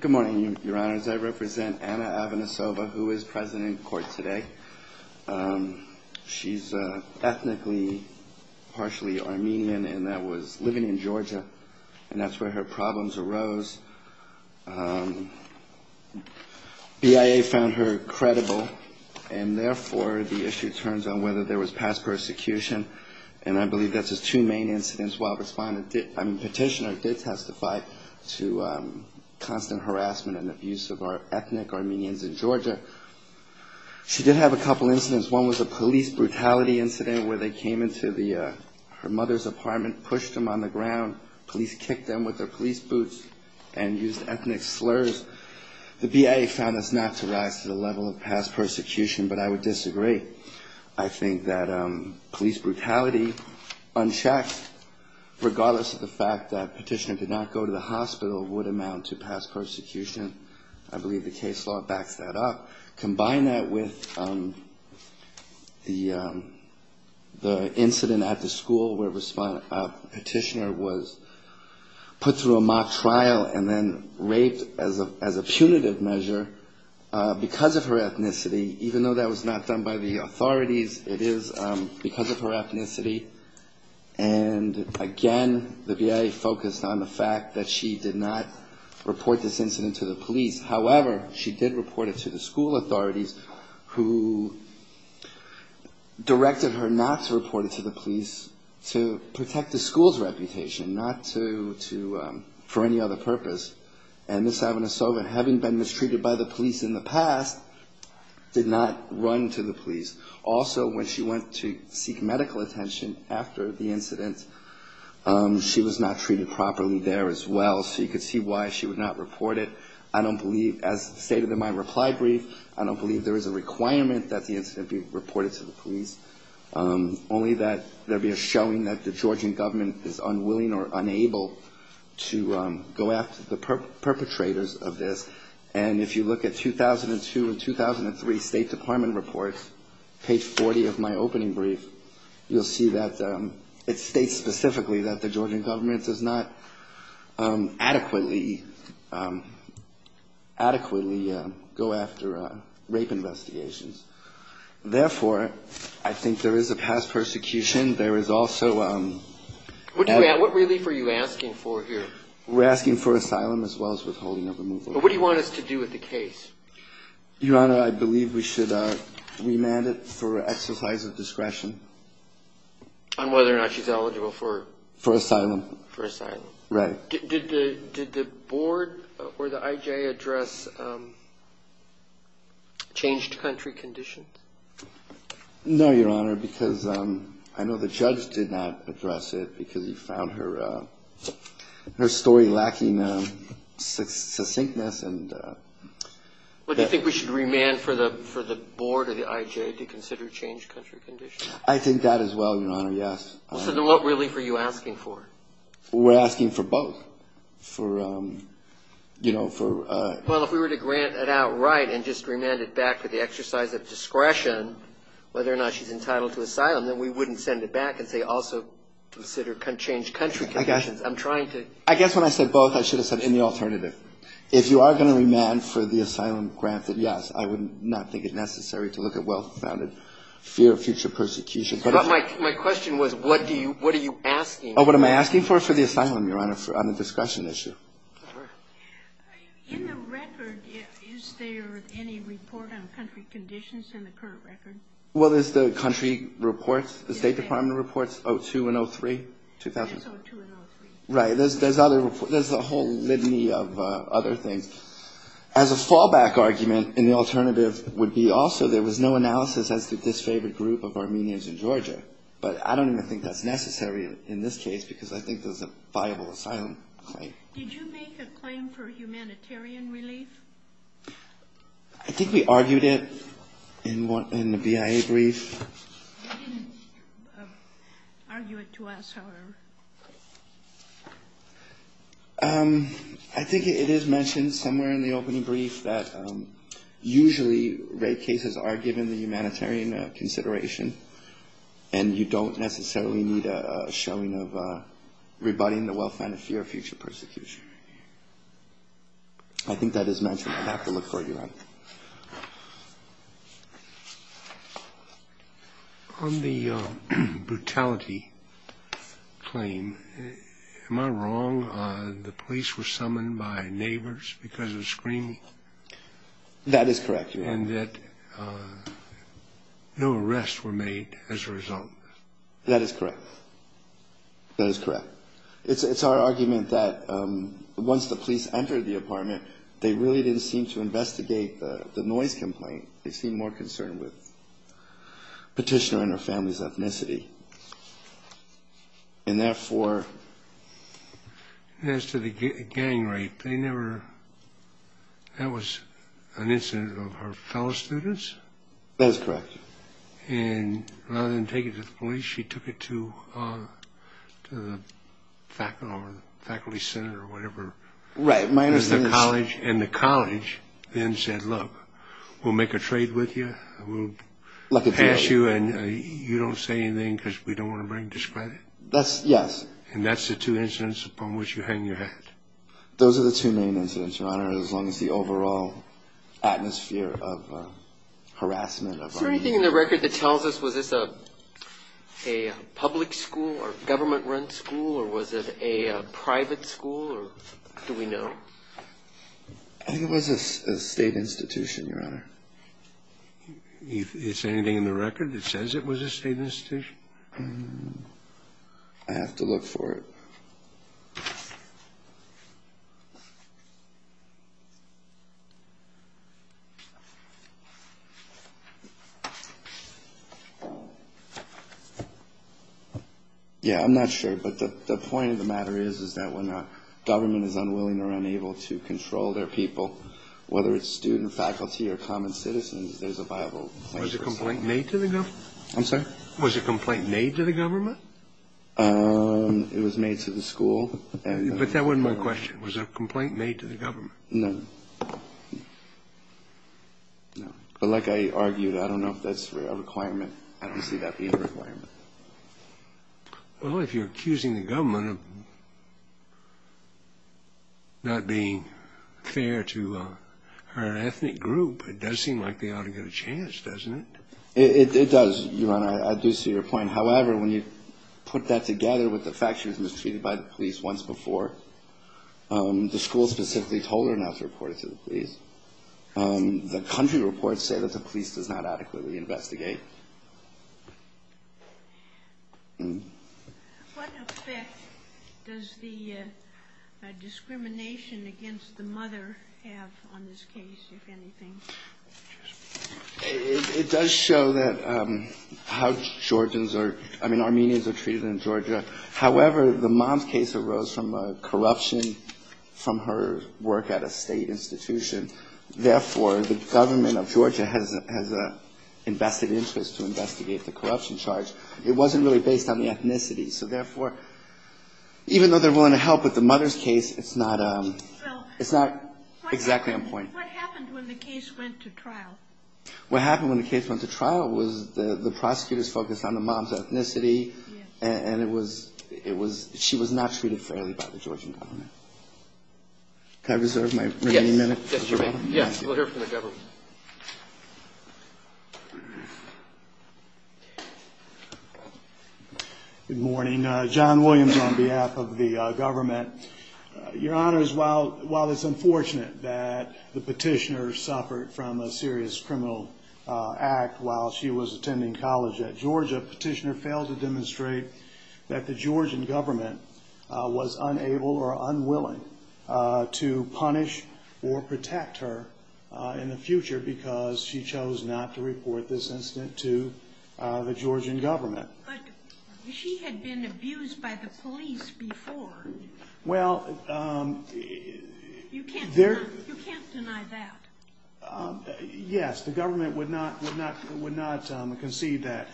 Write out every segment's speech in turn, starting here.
Good morning, your honors. I represent Anna Avanesova, who is president in court today. She's ethnically partially Armenian and that was living in Georgia, and that's where her problems arose. BIA found her credible, and therefore the issue turns on whether there was past persecution, and I believe that's just two main incidents while the petitioner did testify to constant harassment and abuse of our ethnic Armenians in Georgia. She did have a couple incidents. One was a police brutality incident where they came into her mother's apartment, pushed them on the ground, police kicked them with their police boots and used ethnic slurs. The BIA found this not to rise to the level of past persecution, but I would disagree. I think that police brutality, unchecked, regardless of the fact that petitioner did not go to the hospital, would amount to past persecution. I believe the case law backs that up. Combine that with the incident at the school where a petitioner was put through a mock trial and then raped as a punitive measure because of her ethnicity. Even though that was not done by the authorities, it is because of her ethnicity. And again, the BIA focused on the fact that she did not report this incident to the police. However, she did report it to the school authorities who directed her not to report it to the police to protect the school's reputation, not for any other purpose. And Ms. Avinasova, having been mistreated by the police in the past, did not run to the police. Also, when she went to seek medical attention after the incident, she was not treated properly there as well. So you could see why she would not report it. I don't believe, as stated in my reply brief, I don't believe there is a requirement that the incident be reported to the police. Only that there be a showing that the Georgian government is unwilling or unable to go after the perpetrators of this. And if you look at 2002 and 2003 State Department reports, page 40 of my opening brief, you'll see that it states specifically that the Georgian government does not adequately, adequately go after rape investigations. Therefore, I think there is a past persecution. There is also a What relief are you asking for here? We're asking for asylum as well as withholding of removal. But what do you want us to do with the case? Your Honor, I believe we should remand it for exercise of discretion on whether or not she's eligible for asylum. Right. Did the board or the I.J. address changed country conditions? No, Your Honor, because I know the judge did not address it because he found her story lacking succinctness. But do you think we should remand for the board or the I.J. to consider changed country conditions? I think that as well, Your Honor, yes. So then what relief are you asking for? We're asking for both. Well, if we were to grant it outright and just remand it back for the exercise of discretion, whether or not she's eligible for asylum, I think we should remand for the board or the I.J. to consider changed country conditions. I guess when I said both, I should have said any alternative. If you are going to remand for the asylum grant, then yes, I would not think it necessary to look at well-founded fear of future persecution. My question was what are you asking? What am I asking for? For the asylum, Your Honor, on the discretion issue. In the record, is there any report on country conditions in the current record? Well, there's the country reports, the State Department reports, O2 and O3. There's O2 and O3. Right. There's a whole litany of other things. As a fallback argument in the alternative would be also there was no analysis as to this favored group of Armenians in Georgia. But I don't even think that's necessary in this case because I think there's a viable asylum claim. Did you make a claim for humanitarian relief? I think we argued it in the BIA brief. You didn't argue it to us, however. I think it is mentioned somewhere in the opening brief that usually rape cases are given the humanitarian consideration and you don't necessarily need a showing of rebutting the well-founded fear of future persecution. I think that is mentioned. I'd have to look for it, Your Honor. On the brutality claim, am I wrong on the police were summoned by neighbors because of screaming? That is correct, Your Honor. And that no arrests were made as a result. That is correct. That is correct. It's our argument that once the police entered the apartment, they really didn't seem to investigate the noise complaint. They seemed more concerned with petitioner and her family's That is correct. And rather than take it to the police, she took it to the faculty center or whatever. And the college then said, look, we'll make a trade with you. We'll pass you and you don't say anything because we don't want to bring discredit. And that's the two incidents upon which you hang your head. Those are the two main incidents, Your Honor, as long as the overall atmosphere of harassment. Is there anything in the record that tells us was this a public school or government-run school or was it a private school or do we know? I think it was a state institution, Your Honor. Is there anything in the record that says it was a state institution? I have to look for it. Yeah, I'm not sure, but the point of the matter is, is that when a government is unwilling or unable to control their people, whether it's student, faculty or common citizens, there's a viable question. Was a complaint made to the government? I'm sorry? Was a complaint made to the government? It was made to the school. But that wasn't my question. Was a complaint made to the government? No. No. But like I argued, I don't know if that's a requirement. I don't see that being a requirement. Well, if you're accusing the government of not being fair to her ethnic group, it does seem like they ought to get a chance, doesn't it? It does, Your Honor. I do see your point. However, when you put that together with the fact she was mistreated by the police once before, the school specifically told her not to report it to the police. The country reports say that the What effect does the discrimination against the mother have on this case, if anything? It does show that how Georgians are, I mean, Armenians are treated in Georgia. However, the mom's case arose from corruption from her work at a state institution. Therefore, the government of based on the ethnicity. So therefore, even though they're willing to help with the mother's case, it's not exactly on point. What happened when the case went to trial? What happened when the case went to trial was the prosecutors focused on the mom's ethnicity, and she was not treated fairly by the Georgian government. Can I reserve my remaining minutes? Yes. We'll hear from the Good morning. John Williams on behalf of the government. Your Honor, while it's unfortunate that the petitioner suffered from a serious criminal act while she was attending college at Georgia, the petitioner failed to demonstrate that the Georgian government was unable or unwilling to the Georgian government. But she had been abused by the police before. Well, you can't deny that. Yes, the government would not would not would not concede that.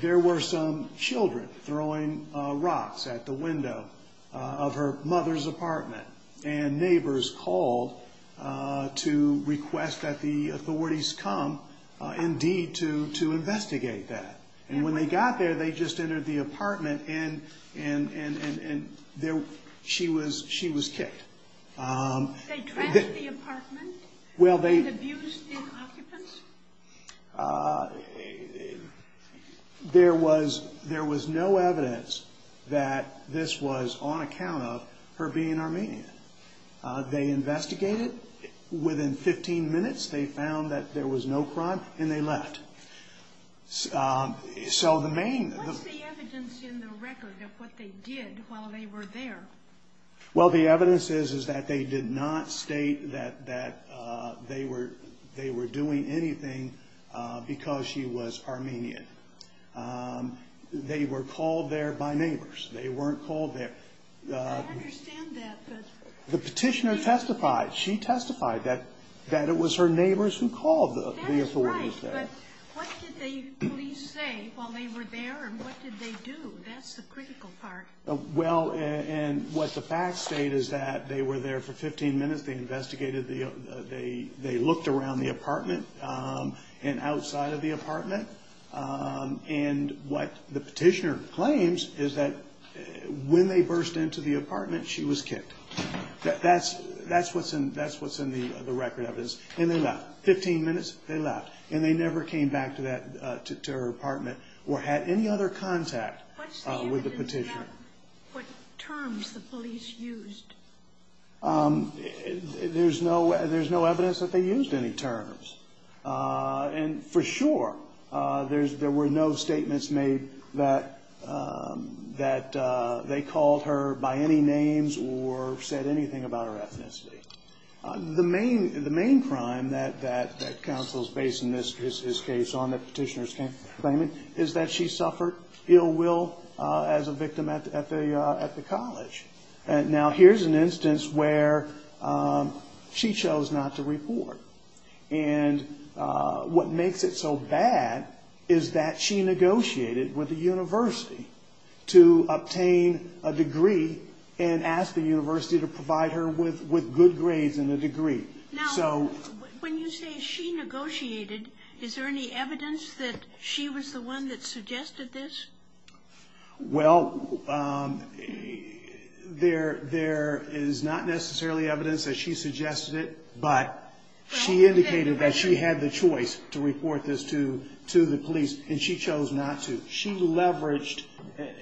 There were some children throwing rocks at the window of her mother's apartment, and neighbors called to request that the authorities come indeed to to investigate that. And when they got there, they just entered the apartment and and and and there she was. She was kicked. They trashed the apartment and abused the occupants? There was there was no evidence that this was on account of her being Armenian. They investigated within 15 minutes. They found that there was no crime and they left. So the main evidence in the record of what they did while they were there. Well, the evidence is is that they did not state that that they were they were doing anything because she was Armenian. They were called there by neighbors. They weren't called there. I understand that, but the petitioner testified, she testified that that it was her neighbors who called the authorities there. That's right, but what did the police say while they were there and what did they do? That's the critical part. Well, and what the facts state is that they were there for 15 minutes. They investigated the they they looked around the apartment and outside of the apartment. And what the petitioner claims is that when they burst into the apartment, she was kicked. That's that's what's in that's what's in the record of this. And they left 15 minutes. They left and they never came back to that to her apartment or had any other contact with the petitioner. What terms the police used? There's no there's no evidence that they used any terms. And for sure, there's there were no statements made that that they called her by any names or said anything about her ethnicity. The main the main crime that that that counsel's base in this is his case on the petitioner's claim is that she suffered ill will as a victim at the at the college. And now here's an instance where she chose not to report. And what makes it so bad is that she negotiated with the university to obtain a degree and ask the university to provide her with with good grades and a degree. So when you say she negotiated, is there any evidence that she was the one that suggested this? Well, there there is not necessarily evidence that she suggested it, but she indicated that she had the choice to report this to to the police and she chose not to. She leveraged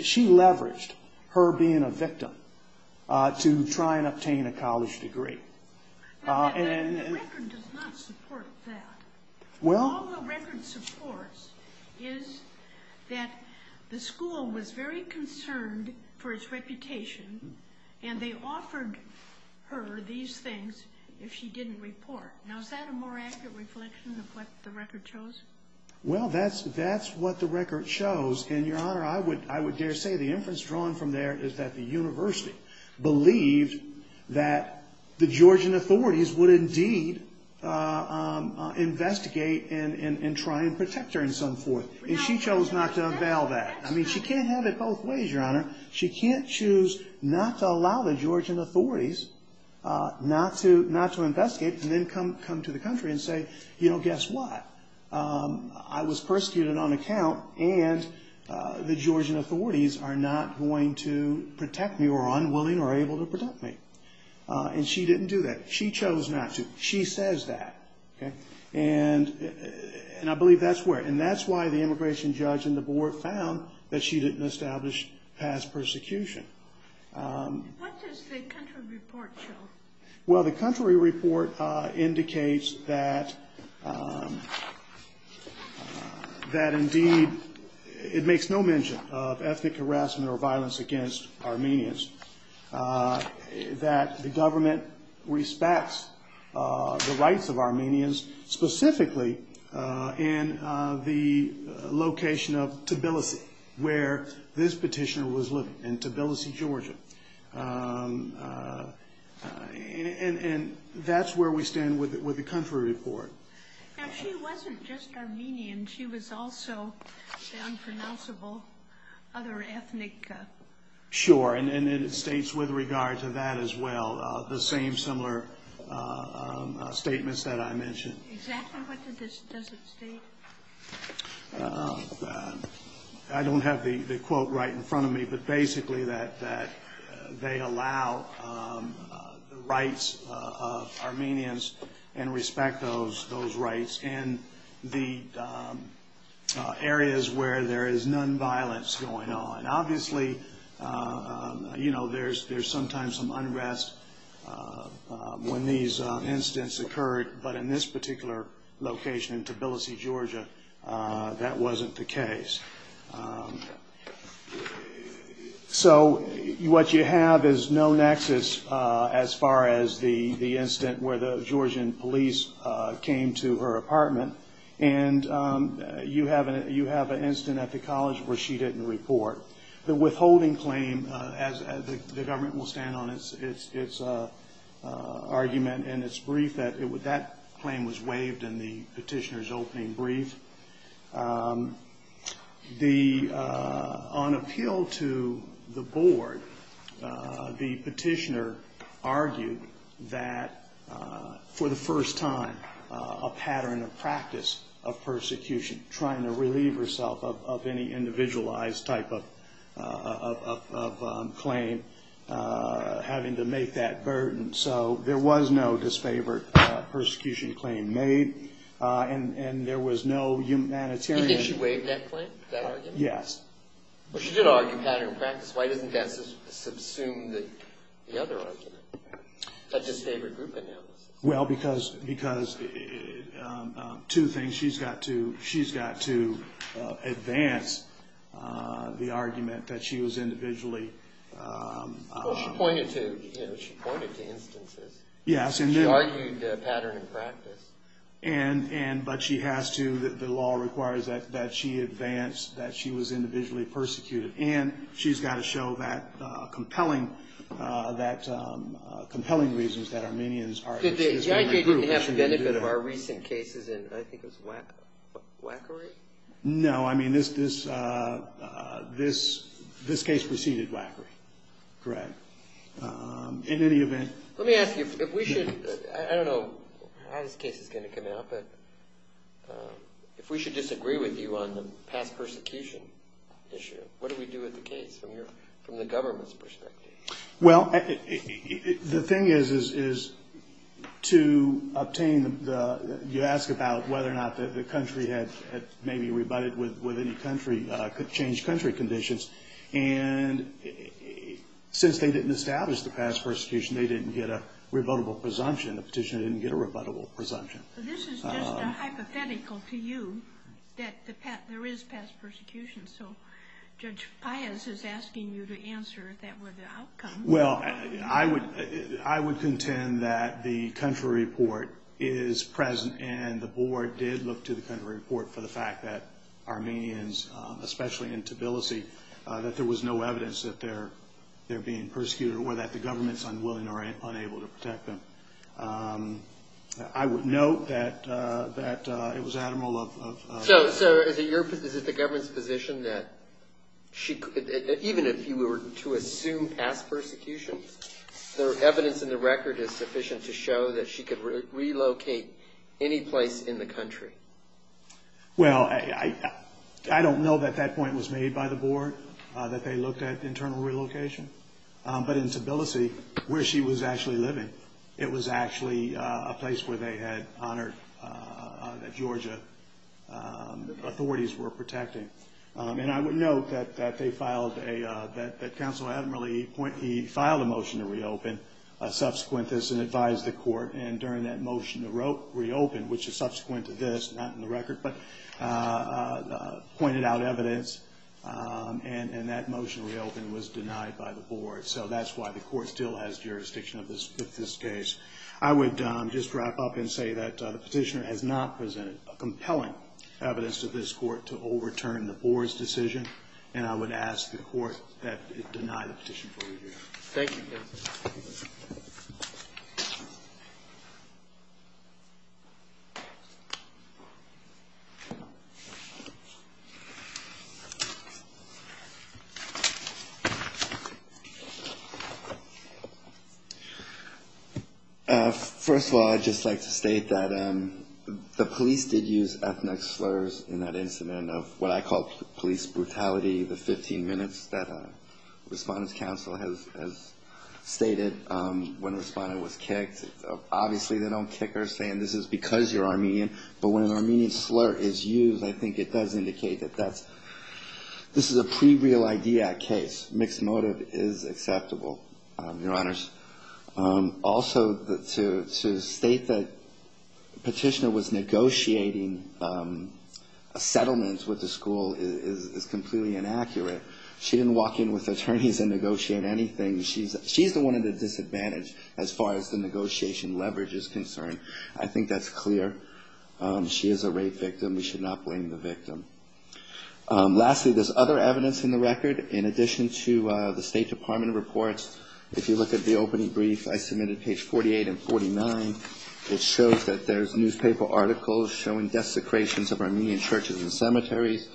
she leveraged her being a victim to try and obtain a college degree. And the record does not support that. Well, the record supports is that the school was very concerned for its reputation and they offered her these things if she didn't report. Now, is that a more accurate reflection of what the record shows? Well, that's that's what the record shows. And, Your Honor, I would I would dare say the inference drawn from there is that the university believed that the Georgian authorities would indeed investigate and try and protect her and so forth. And she chose not to avail that. I mean, she can't have it both ways, Your Honor. She can't choose not to allow the Georgian authorities not to not to investigate and then come come to the country and say, you know, guess what? I was persecuted on account and the Georgian authorities are not going to protect me or unwilling or able to protect me. And she didn't do that. She chose not to. She says that. And and I believe that's where and that's why the immigration judge and the board found that she didn't establish past persecution. What does the country report show? Well, the country report indicates that that indeed it makes no mention of ethnic harassment or violence against Armenians, that the government respects the rights of Armenians, specifically in the location of Tbilisi, where this petitioner was living in Tbilisi, Georgia. And that's where we stand with it, with the country report. Now, she wasn't just Armenian. She was also the unpronounceable other ethnic. Sure. And it states with regard to that as well, the same similar statements that I mentioned. Exactly what does it state? I don't have the quote right in front of me, but basically that that they allow the rights of Armenians and respect those those rights and the areas where there is nonviolence going on. Obviously, you know, there's there's sometimes some unrest when these incidents occurred. But in this particular location in Tbilisi, Georgia, that wasn't the case. So what you have is no nexus as far as the the incident where the Georgian police came to her apartment. And you have an incident at the college where she didn't report. The withholding claim, as the government will stand on its argument in its brief, that that claim was waived in the petitioner's opening brief. The on appeal to the board, the petitioner argued that for the first time, a pattern of practice of persecution, trying to relieve herself of any individualized type of claim, having to make that burden. So there was no disfavored persecution claim made. And there was no humanitarian. Did she waive that claim? Yes. Well, she did argue pattern of practice. Why doesn't that subsume the other argument? That disfavored group analysis. Well, because because two things. She's got to she's got to advance the argument that she was individually. She pointed to, you know, she pointed to instances. Yes. She argued pattern of practice. And but she has to. The law requires that she advance that she was individually persecuted. And she's got to show that compelling that compelling reasons that Armenians are disfavored group. Did the IG didn't have the benefit of our recent cases in I think it was Wackery? No. I mean, this this this this case preceded Wackery. Correct. In any event, let me ask you if we should. I don't know how this case is going to come out. But if we should disagree with you on the past persecution issue, what do we do with the case from here? From the government's perspective? Well, the thing is, is to obtain the you ask about whether or not the country had maybe rebutted with any country could change country conditions. And since they didn't establish the past persecution, they didn't get a rebuttable presumption. The petition didn't get a rebuttable presumption. This is just a hypothetical to you that there is past persecution. So Judge Pius is asking you to answer that with the outcome. Well, I would I would contend that the country report is present. And the board did look to the country report for the fact that Armenians, especially in Tbilisi, that there was no evidence that they're they're being persecuted or that the government's unwilling or unable to protect them. I would note that that it was admiral of. So is it your is it the government's position that she could even if you were to assume past persecution, the evidence in the record is sufficient to show that she could relocate any place in the country? Well, I don't know that that point was made by the board, that they looked at internal relocation. But in Tbilisi, where she was actually living, it was actually a place where they had honored that Georgia authorities were protecting. And I would note that that they filed a that the council had really point. He filed a motion to reopen a subsequent this and advised the court. And during that motion, the rope reopened, which is subsequent to this, not in the record, but pointed out evidence. And that motion reopen was denied by the board. So that's why the court still has jurisdiction of this. I would just wrap up and say that the petitioner has not presented a compelling evidence to this court to overturn the board's decision. And I would ask the court that it denied the petition. Thank you. First of all, I'd just like to state that the police did use ethnic slurs in that incident of what I call police brutality. The 15 minutes that Respondents Council has stated when a respondent was kicked. Obviously, they don't kick her saying this is because you're Armenian. But when an Armenian slur is used, I think it does indicate that that's this is a pre real idea case. Mixed motive is acceptable. Your Honors. Also, to state that petitioner was negotiating a settlement with the school is completely inaccurate. She didn't walk in with attorneys and negotiate anything. She's the one at a disadvantage as far as the negotiation leverage is concerned. I think that's clear. She is a rape victim. We should not blame the victim. Lastly, there's other evidence in the record. In addition to the State Department reports, if you look at the opening brief I submitted, page 48 and 49, it shows that there's newspaper articles showing desecrations of Armenian churches and cemeteries.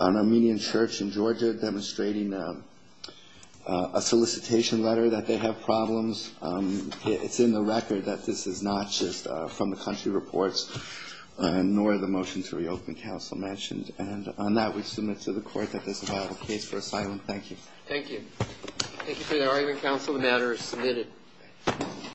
An Armenian church in Georgia demonstrating a solicitation letter that they have problems. It's in the record that this is not just from the country reports, nor the motion to reopen Council mentioned. And on that, we submit to the Court that this is not a case for asylum. Thank you. Thank you. Thank you for your argument, counsel. The matter is submitted.